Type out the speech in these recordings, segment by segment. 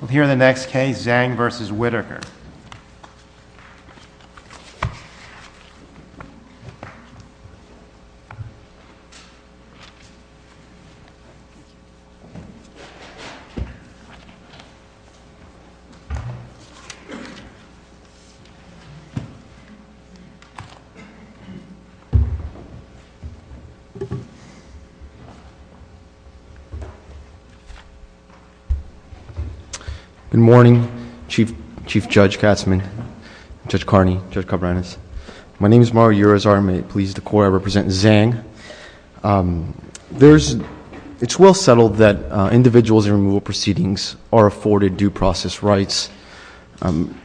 We'll hear the next case, Zhang v. Whittaker. Good morning, Chief Judge Katzman, Judge Carney, Judge Cabranes. My name is Mario Urizar. I'm a police decorator. I represent Zhang. It's well settled that individuals in removal proceedings are afforded due process rights.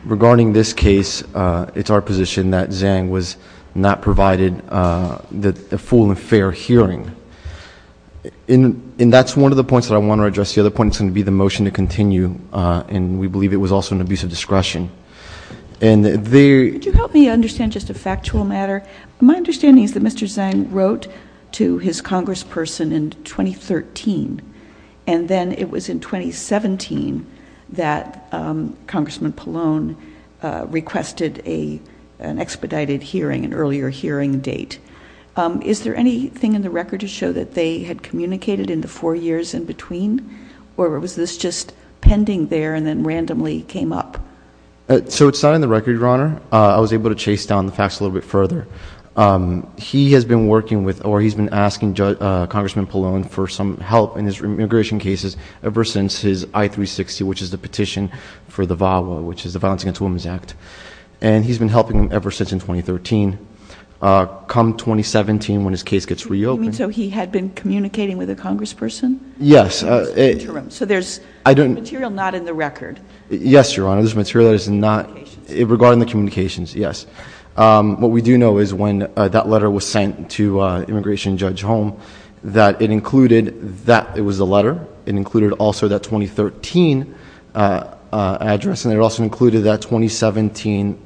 Regarding this case, it's our position that Zhang was not provided the full and fair hearing. And that's one of the points that I want to address. The other point is going to be the motion to continue, and we believe it was also an abuse of discretion. Could you help me understand just a factual matter? My understanding is that Mr. Zhang wrote to his congressperson in 2013, and then it was in 2017 that Congressman Pallone requested an expedited hearing, an earlier hearing date. Is there anything in the record to show that they had communicated in the four years in between, or was this just pending there and then randomly came up? So it's not in the record, Your Honor. I was able to chase down the facts a little bit further. He has been working with or he's been asking Congressman Pallone for some help in his immigration cases ever since his I-360, which is the petition for the VAWA, which is the Violence Against Women Act. And he's been helping him ever since in 2013. Come 2017, when his case gets reopened- You mean so he had been communicating with a congressperson? Yes. So there's material not in the record? Yes, Your Honor. There's material that is not- Regarding the communications? Regarding the communications, yes. What we do know is when that letter was sent to Immigration Judge Holm, that it included that it was a letter. It included also that 2013 address, and it also included that 2017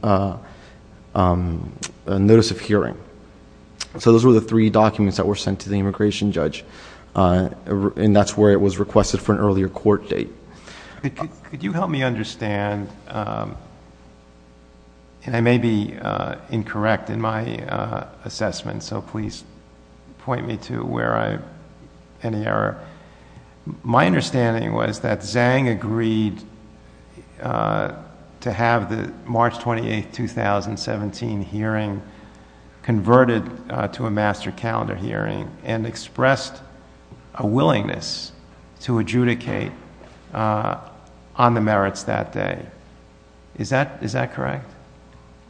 notice of hearing. So those were the three documents that were sent to the Immigration Judge. And that's where it was requested for an earlier court date. Could you help me understand, and I may be incorrect in my assessment, so please point me to where I have any error. My understanding was that Zhang agreed to have the March 28, 2017 hearing converted to a master calendar hearing and expressed a willingness to adjudicate on the merits that day. Is that correct?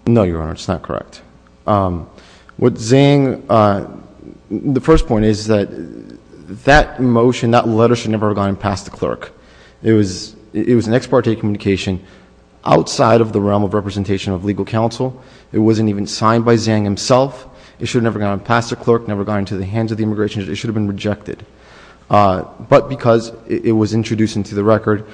No, Your Honor. It's not correct. What Zhang- The first point is that that motion, that letter should never have gone past the clerk. It was an ex parte communication outside of the realm of representation of legal counsel. It wasn't even signed by Zhang himself. It should have never gone past the clerk, never gone into the hands of the Immigration Judge. It should have been rejected. But because it was introduced into the record,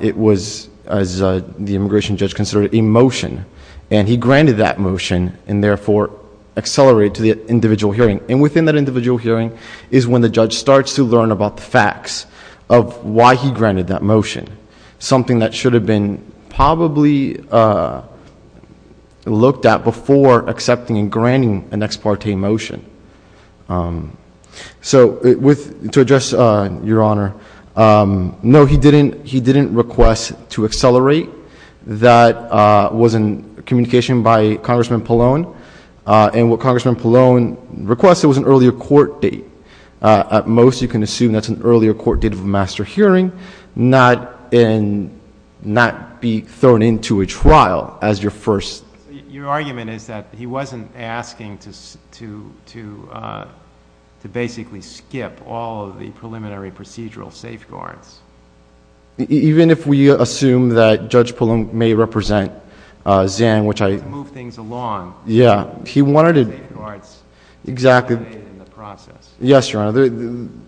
it was, as the Immigration Judge considered it, a motion. And he granted that motion and therefore accelerated to the individual hearing. And within that individual hearing is when the judge starts to learn about the facts of why he granted that motion, something that should have been probably looked at before accepting and granting an ex parte motion. So to address Your Honor, no, he didn't request to accelerate. That was a communication by Congressman Pallone. And what Congressman Pallone requested was an earlier court date. At most, you can assume that's an earlier court date of a master hearing, not be thrown into a trial as your first- Your argument is that he wasn't asking to basically skip all of the preliminary procedural safeguards. Even if we assume that Judge Pallone may represent Zhang, which I- To move things along. Yeah. He wanted to- Safeguards. Exactly. Yes, Your Honor.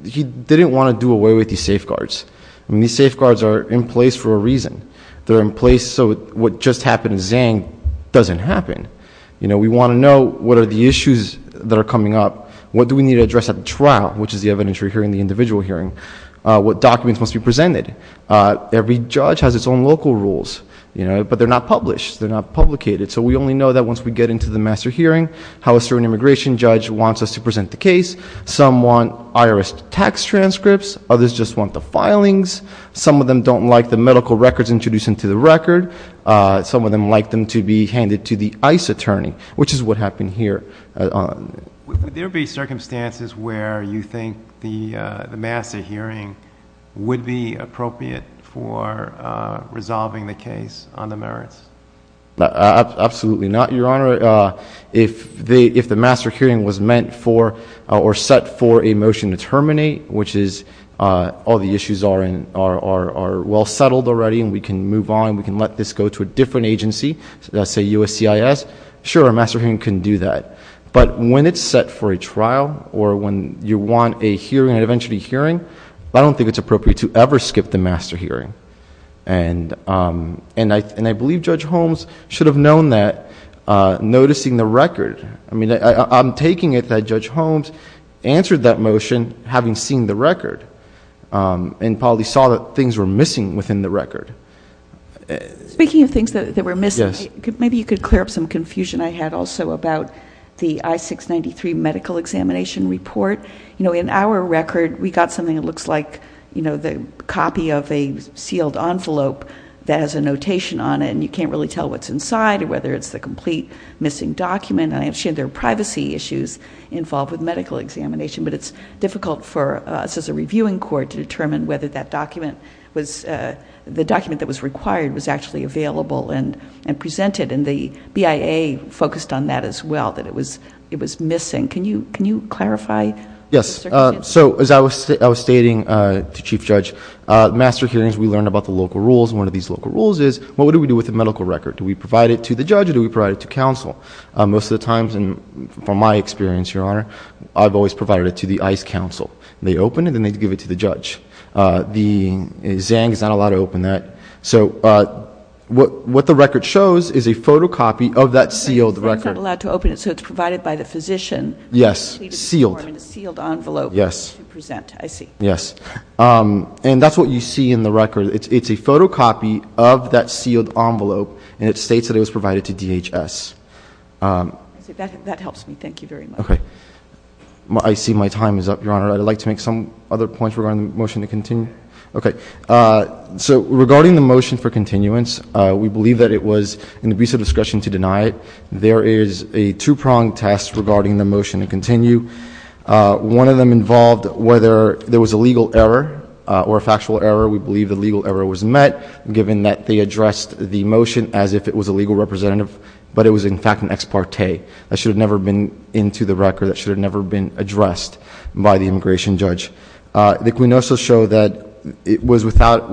He didn't want to do away with these safeguards. These safeguards are in place for a reason. They're in place so what just happened to Zhang doesn't happen. We want to know what are the issues that are coming up. What do we need to address at the trial, which is the evidentiary hearing, the individual hearing. What documents must be presented. Every judge has its own local rules. But they're not published. They're not publicated. So we only know that once we get into the master hearing how a certain immigration judge wants us to present the case. Some want IRS tax transcripts. Others just want the filings. Some of them don't like the medical records introduced into the record. Some of them like them to be handed to the ICE attorney, which is what happened here. Would there be circumstances where you think the master hearing would be appropriate for resolving the case on the merits? Absolutely not, Your Honor. If the master hearing was meant for or set for a motion to terminate, which is all the issues are well settled already and we can move on. We can let this go to a different agency, let's say USCIS. Sure, a master hearing can do that. But when it's set for a trial or when you want a hearing, an evidentiary hearing, I don't think it's appropriate to ever skip the master hearing. I believe Judge Holmes should have known that noticing the record. I'm taking it that Judge Holmes answered that motion having seen the record and probably saw that things were missing within the record. Speaking of things that were missing, maybe you could clear up some confusion I had also about the I-693 medical examination report. In our record, we got something that looks like the copy of a sealed envelope that has a notation on it and you can't really tell what's inside or whether it's the complete missing document. I understand there are privacy issues involved with medical examination, but it's difficult for us as a reviewing court to determine whether the document that was required was actually available and presented. And the BIA focused on that as well, that it was missing. Can you clarify? Yes. So as I was stating to Chief Judge, master hearings, we learn about the local rules. One of these local rules is what do we do with the medical record? Do we provide it to the judge or do we provide it to counsel? Most of the times, and from my experience, Your Honor, I've always provided it to the ICE counsel. They open it and then they give it to the judge. The ZHANG is not allowed to open that. So what the record shows is a photocopy of that sealed record. So it's not allowed to open it, so it's provided by the physician. Yes. Sealed. In a sealed envelope to present, I see. Yes. And that's what you see in the record. It's a photocopy of that sealed envelope, and it states that it was provided to DHS. That helps me. Thank you very much. Okay. I see my time is up, Your Honor. I'd like to make some other points regarding the motion to continue. Okay. So regarding the motion for continuance, we believe that it was an abuse of discretion to deny it. There is a two-pronged test regarding the motion to continue. One of them involved whether there was a legal error or a factual error. We believe the legal error was met, given that they addressed the motion as if it was a legal representative, but it was, in fact, an ex parte. That should have never been into the record. That should have never been addressed by the immigration judge. The quinosas show that it was not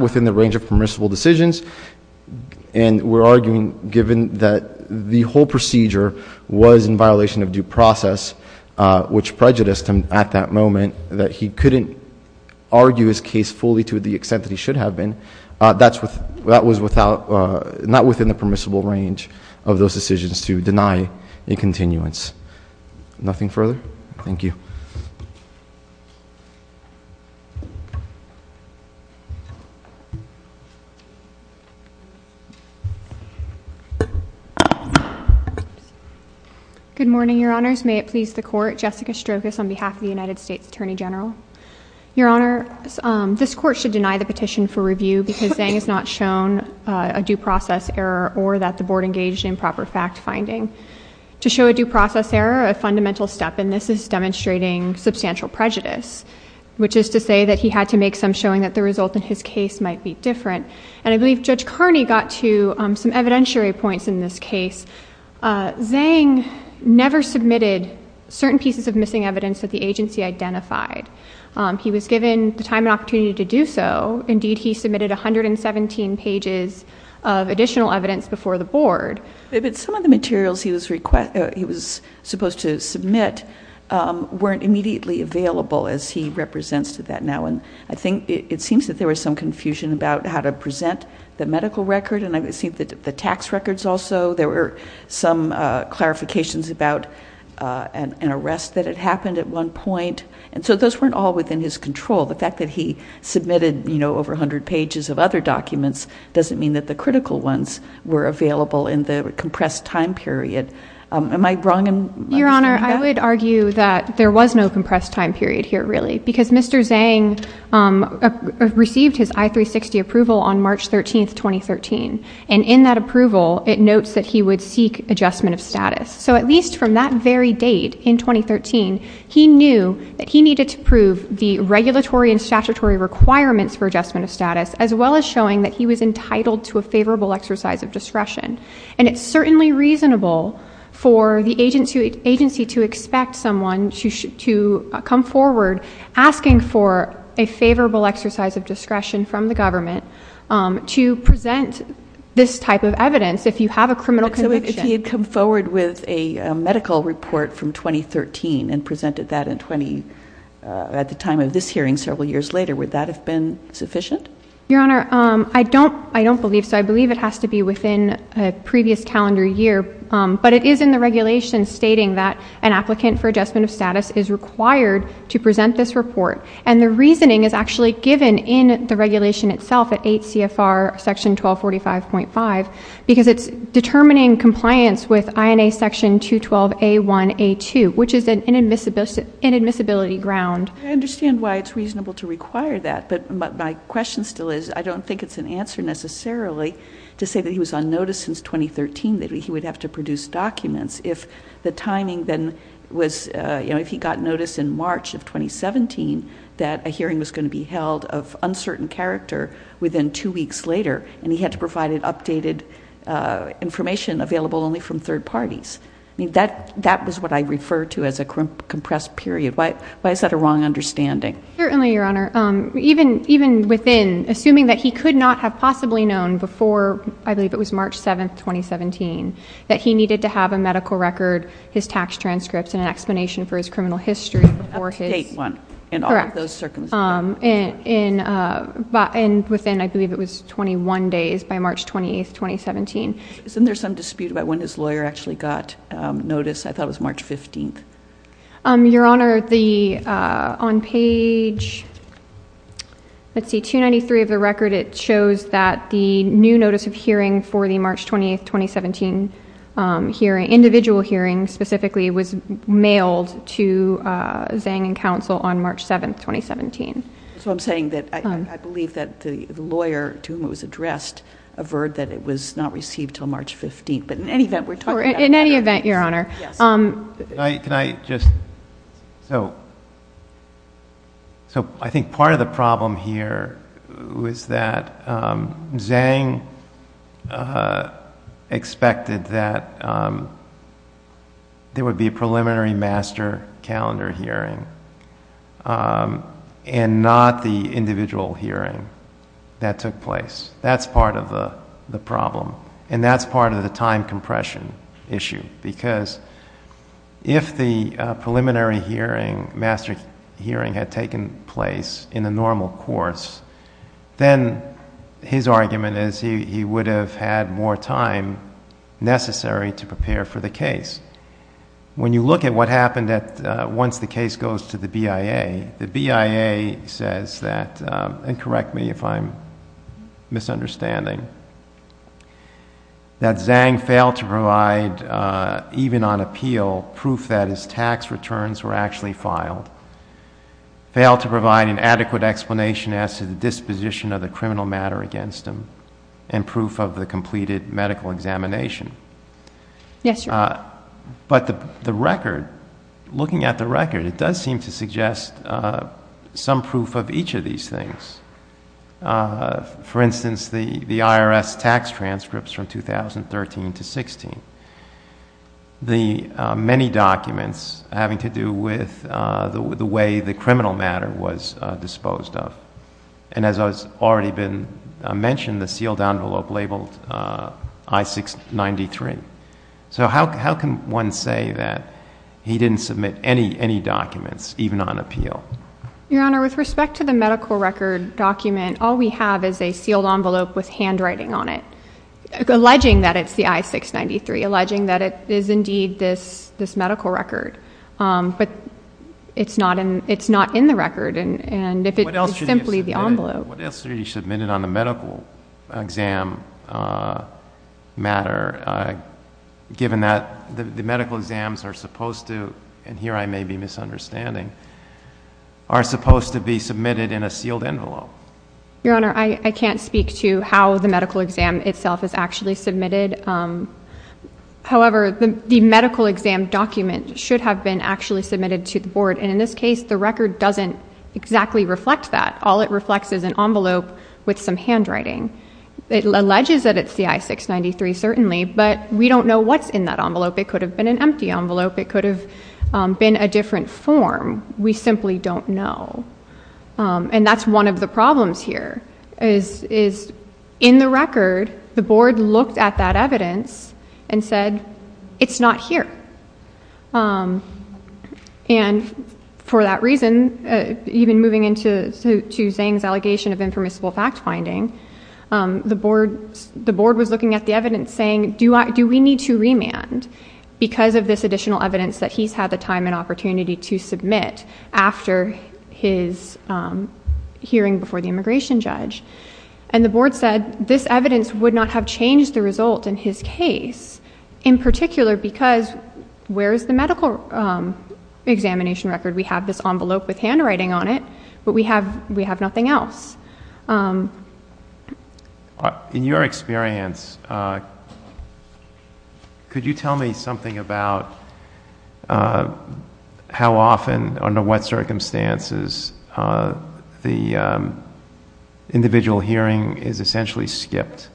within the range of permissible decisions, and we're arguing, given that the whole procedure was in violation of due process, which prejudiced him at that moment, that he couldn't argue his case fully to the extent that he should have been. That was not within the permissible range of those decisions to deny a continuance. Nothing further? Thank you. Thank you. Good morning, Your Honors. May it please the Court. Jessica Strokos on behalf of the United States Attorney General. Your Honors, this Court should deny the petition for review because Zang has not shown a due process error or that the Board engaged in proper fact-finding. To show a due process error, a fundamental step, and this is demonstrating substantial prejudice, which is to say that he had to make some showing that the result in his case might be different. And I believe Judge Carney got to some evidentiary points in this case. Zang never submitted certain pieces of missing evidence that the agency identified. He was given the time and opportunity to do so. Indeed, he submitted 117 pages of additional evidence before the Board. But some of the materials he was supposed to submit weren't immediately available, as he represents to that now. And I think it seems that there was some confusion about how to present the medical record and I've seen the tax records also. There were some clarifications about an arrest that had happened at one point. And so those weren't all within his control. The fact that he submitted, you know, over 100 pages of other documents doesn't mean that the critical ones were available in the compressed time period. Am I wrong in understanding that? Your Honor, I would argue that there was no compressed time period here really because Mr. Zang received his I-360 approval on March 13, 2013. And in that approval, it notes that he would seek adjustment of status. So at least from that very date in 2013, he knew that he needed to prove the regulatory and statutory requirements for adjustment of status as well as showing that he was entitled to a favorable exercise of discretion. And it's certainly reasonable for the agency to expect someone to come forward asking for a favorable exercise of discretion from the government to present this type of evidence if you have a criminal conviction. So if he had come forward with a medical report from 2013 at the time of this hearing several years later, would that have been sufficient? Your Honor, I don't believe so. I believe it has to be within a previous calendar year. But it is in the regulation stating that an applicant for adjustment of status is required to present this report. And the reasoning is actually given in the regulation itself at 8 CFR section 1245.5 because it's determining compliance with INA section 212A1A2, which is an inadmissibility ground. I understand why it's reasonable to require that, but my question still is I don't think it's an answer necessarily to say that he was on notice since 2013 that he would have to produce documents if the timing then was, you know, if he got notice in March of 2017 that a hearing was going to be held of uncertain character within two weeks later and he had to provide an updated information available only from third parties. I mean, that was what I refer to as a compressed period. Why is that a wrong understanding? Certainly, Your Honor. Even within, assuming that he could not have possibly known before, I believe it was March 7, 2017, that he needed to have a medical record, his tax transcripts, and an explanation for his criminal history before his... Update one. Correct. And all of those circumstances. And within, I believe it was 21 days by March 28, 2017. Isn't there some dispute about when his lawyer actually got notice? I thought it was March 15. Your Honor, on page 293 of the record, it shows that the new notice of hearing for the March 28, 2017 individual hearing specifically was mailed to Zhang and counsel on March 7, 2017. So I'm saying that I believe that the lawyer to whom it was addressed averred that it was not received until March 15. But in any event, we're talking about... In any event, Your Honor... Can I just... So, I think part of the problem here was that Zhang expected that there would be a preliminary master calendar hearing and not the individual hearing that took place. That's part of the problem. And that's part of the time compression issue. Because if the preliminary hearing, master hearing, had taken place in the normal course, then his argument is he would have had more time necessary to prepare for the case. When you look at what happened once the case goes to the BIA, the BIA says that, and correct me if I'm misunderstanding, that Zhang failed to provide, even on appeal, proof that his tax returns were actually filed. Failed to provide an adequate explanation as to the disposition of the criminal matter against him and proof of the completed medical examination. Yes, Your Honor. But the record... Looking at the record, it does seem to suggest some proof of each of these things. For instance, the IRS tax transcripts from 2013 to 2016. The many documents having to do with the way the criminal matter was disposed of. And as has already been mentioned, the sealed envelope labeled I-693. So how can one say that he didn't submit any documents, even on appeal? Your Honor, with respect to the medical record document, all we have is a sealed envelope with handwriting on it, alleging that it's the I-693, alleging that it is indeed this medical record. But it's not in the record. It's simply the envelope. But what else are you submitting on the medical exam matter, given that the medical exams are supposed to, and here I may be misunderstanding, are supposed to be submitted in a sealed envelope? Your Honor, I can't speak to how the medical exam itself is actually submitted. However, the medical exam document should have been actually submitted to the board. And in this case, the record doesn't exactly reflect that. All it reflects is an envelope with some handwriting. It alleges that it's the I-693, certainly, but we don't know what's in that envelope. It could have been an empty envelope. It could have been a different form. We simply don't know. And that's one of the problems here, is in the record, the board looked at that evidence and said, it's not here. And for that reason, even moving into Zhang's allegation of impermissible fact-finding, the board was looking at the evidence saying, do we need to remand because of this additional evidence that he's had the time and opportunity to submit after his hearing before the immigration judge? And the board said this evidence would not have changed the result in his case, in particular because where is the medical examination record? We have this envelope with handwriting on it, but we have nothing else. In your experience, could you tell me something about how often, under what circumstances, the individual hearing is essentially skipped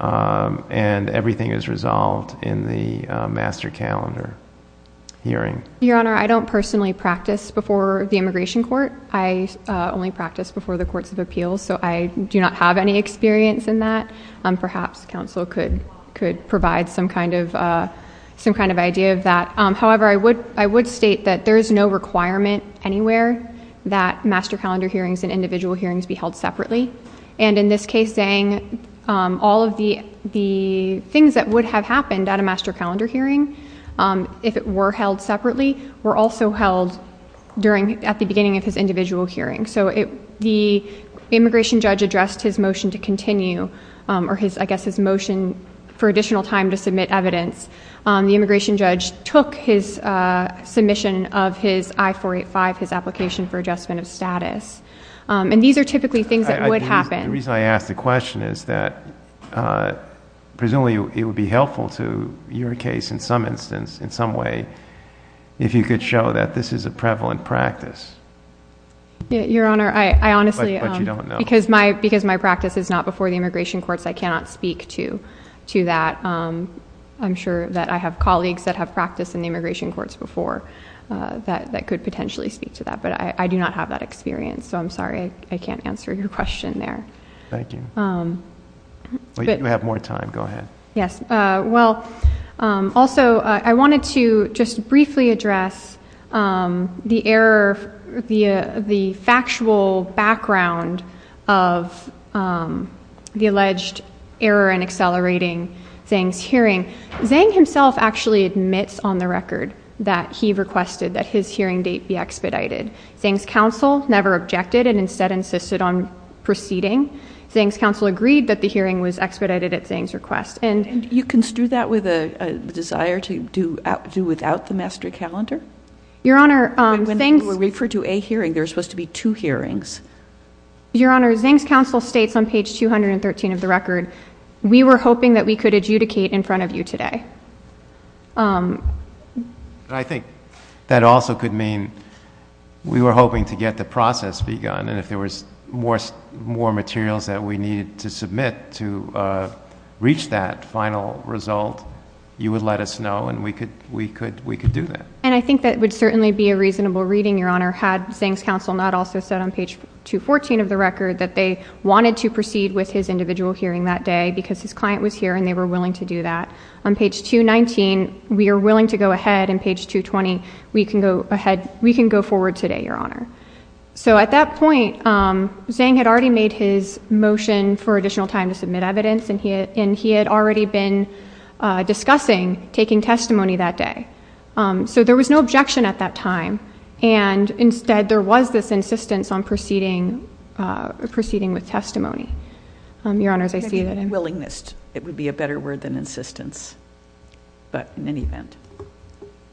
and everything is resolved in the master calendar hearing? Your Honor, I don't personally practice before the immigration court. I only practice before the courts of appeals, so I do not have any experience in that. Perhaps counsel could provide some kind of idea of that. However, I would state that there is no requirement anywhere that master calendar hearings and individual hearings be held separately. In this case, all of the things that would have happened at a master calendar hearing, if it were held separately, were also held at the beginning of his individual hearing. The immigration judge addressed his motion to continue, or I guess his motion for additional time to submit evidence. The immigration judge took his submission of his I-485, his application for adjustment of status. These are typically things that would happen. The reason I ask the question is that, presumably it would be helpful to your case in some instance, in some way, if you could show that this is a prevalent practice. Your Honor, I honestly... But you don't know. Because my practice is not before the immigration courts, I cannot speak to that. I'm sure that I have colleagues that have practiced in the immigration courts before that could potentially speak to that, but I do not have that experience, so I'm sorry I can't answer your question there. Thank you. You have more time. Go ahead. Yes. Also, I wanted to just briefly address the factual background of the alleged error in accelerating Zhang's hearing. Zhang himself actually admits on the record that he requested that his hearing date be expedited. Zhang's counsel never objected and instead insisted on proceeding. Zhang's counsel agreed that the hearing was expedited at Zhang's request. You construed that with a desire to do without the mastery calendar? Your Honor, Zhang's... When people were referred to a hearing, there were supposed to be two hearings. Your Honor, Zhang's counsel states on page 213 of the record, we were hoping that we could adjudicate in front of you today. I think that also could mean we were hoping to get the process begun, and if there was more materials that we needed to submit to reach that final result, you would let us know and we could do that. I think that would certainly be a reasonable reading, Your Honor, had Zhang's counsel not also said on page 214 of the record that they wanted to proceed with his individual hearing that day because his client was here and they were willing to do that. On page 219, we are willing to go ahead, and page 220, we can go forward today, Your Honor. So at that point, Zhang had already made his motion for additional time to submit evidence and he had already been discussing taking testimony that day. So there was no objection at that time, and instead there was this insistence on proceeding with testimony. Your Honors, I see that... but in any event...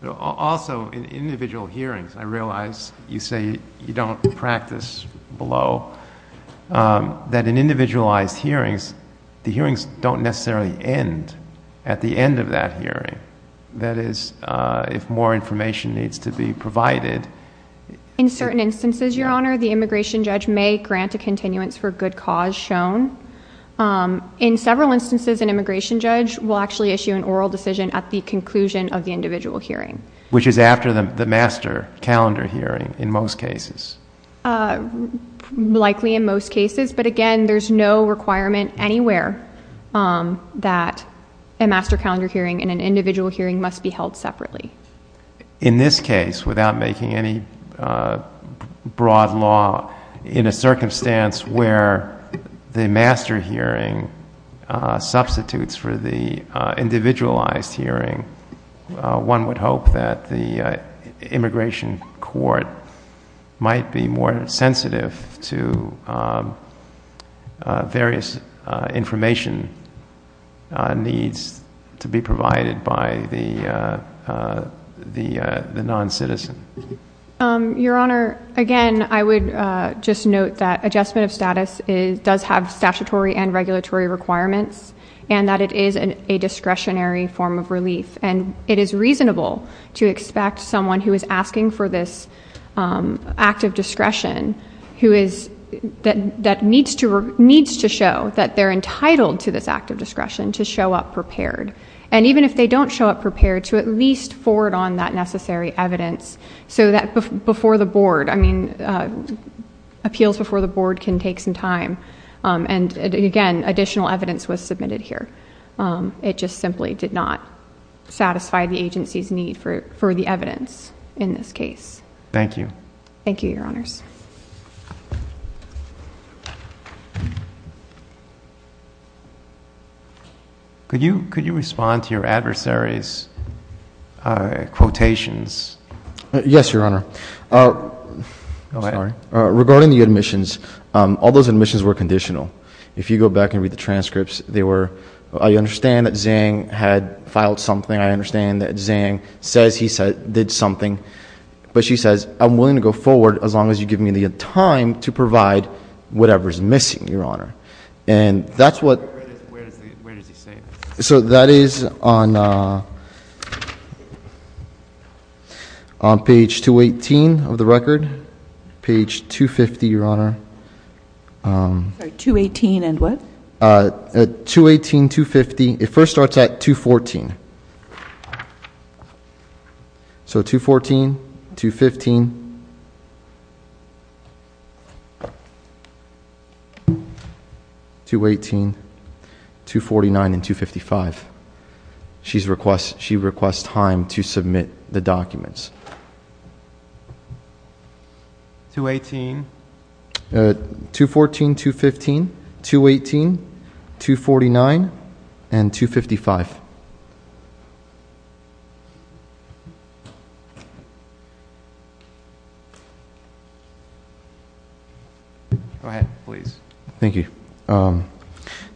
Also, in individual hearings, I realize you say you don't practice below, that in individualized hearings, the hearings don't necessarily end at the end of that hearing. That is, if more information needs to be provided... In certain instances, Your Honor, the immigration judge may grant a continuance for good cause shown. In several instances, an immigration judge will actually issue an oral decision at the conclusion of the individual hearing. Which is after the master calendar hearing in most cases. Likely in most cases, but again, there's no requirement anywhere that a master calendar hearing and an individual hearing must be held separately. In this case, without making any broad law, in a circumstance where the master hearing substitutes for the individualized hearing, one would hope that the immigration court might be more sensitive to various information needs to be provided by the non-citizen. Your Honor, again, I would just note that adjustment of status does have statutory and regulatory requirements, and that it is a discretionary form of relief. And it is reasonable to expect someone who is asking for this act of discretion that needs to show that they're entitled to this act of discretion to show up prepared. And even if they don't show up prepared, to at least forward on that necessary evidence so that appeals before the board can take some time. And again, additional evidence was submitted here. It just simply did not satisfy the agency's need for the evidence in this case. Thank you. Thank you, Your Honors. Could you respond to your adversary's quotations? Yes, Your Honor. Sorry. Regarding the admissions, all those admissions were conditional. If you go back and read the transcripts, they were, I understand that Zhang had filed something. I understand that Zhang says he did something. to provide whatever is missing, Your Honor. Where does he say that? So that is on page 218 of the record, page 250, Your Honor. Sorry, 218 and what? 218, 250. It first starts at 214. Okay. So 214, 215, 218, 249, and 255. She requests time to submit the documents. 218. 214, 215, 218, 249, and 255. Go ahead, please. Thank you.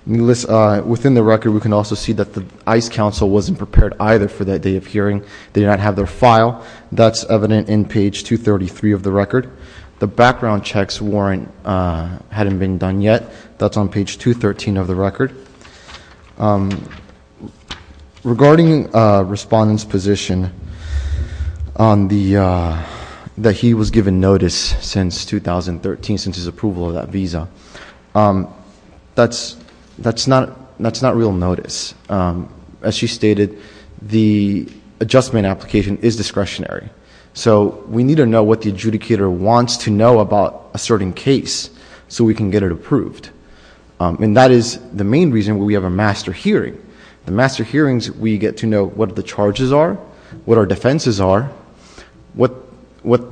Within the record, we can also see that the ICE counsel wasn't prepared either for that day of hearing. They did not have their file. That's evident in page 233 of the record. The background checks warrant hadn't been done yet. That's on page 213 of the record. Regarding Respondent's position that he was given notice since 2013, since his approval of that visa, that's not real notice. As she stated, the adjustment application is discretionary. We need to know what the adjudicator wants to know about a certain case so we can get it approved. That is the main reason we have a master hearing. The master hearings, we get to know what the charges are, what our defenses are, what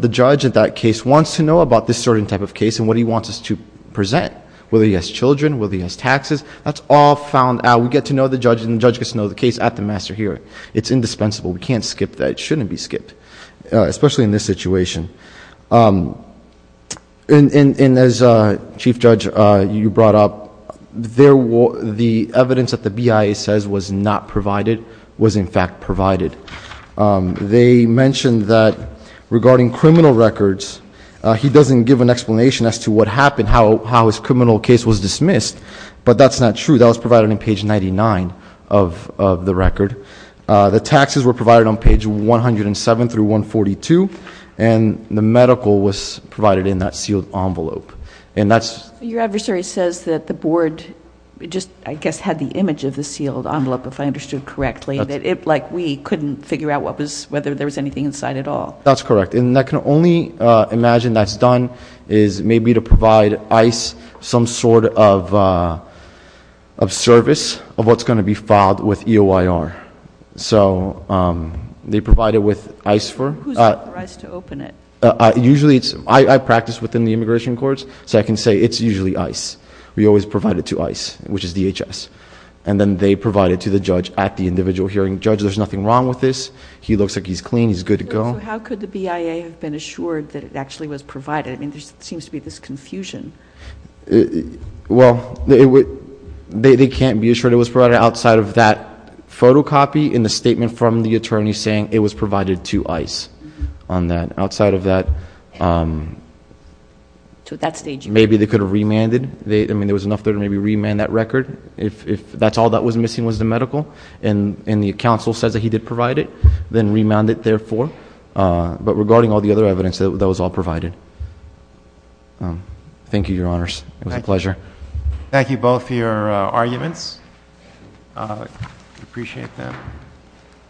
the judge at that case wants to know about this certain type of case and what he wants us to present, whether he has children, whether he has taxes. That's all found out. We get to know the judge, and the judge gets to know the case at the master hearing. It's indispensable. We can't skip that. It shouldn't be skipped, especially in this situation. And as, Chief Judge, you brought up, the evidence that the BIA says was not provided was, in fact, provided. They mentioned that regarding criminal records, he doesn't give an explanation as to what happened, how his criminal case was dismissed, but that's not true. That was provided on page 99 of the record. The taxes were provided on page 107 through 142, and the medical was provided in that sealed envelope. And that's- Your adversary says that the board just, I guess, had the image of the sealed envelope, if I understood correctly. That it, like we, couldn't figure out whether there was anything inside at all. That's correct. And I can only imagine that's done is maybe to provide ICE some sort of service of what's going to be filed with EOIR. So they provide it with ICE for- Who's authorized to open it? Usually it's, I practice within the immigration courts, so I can say it's usually ICE. We always provide it to ICE, which is DHS. And then they provide it to the judge at the individual hearing. Judge, there's nothing wrong with this. He looks like he's clean. He's good to go. So how could the BIA have been assured that it actually was provided? I mean, there seems to be this confusion. Well, they can't be assured it was provided outside of that photocopy in the statement from the attorney saying it was provided to ICE on that. Outside of that, maybe they could have remanded. I mean, there was enough there to maybe remand that record. If that's all that was missing was the medical, and the counsel says that he did provide it, then remand it therefore. But regarding all the other evidence, that was all provided. Thank you, Your Honors. It was a pleasure. Thank you both for your arguments. I appreciate them.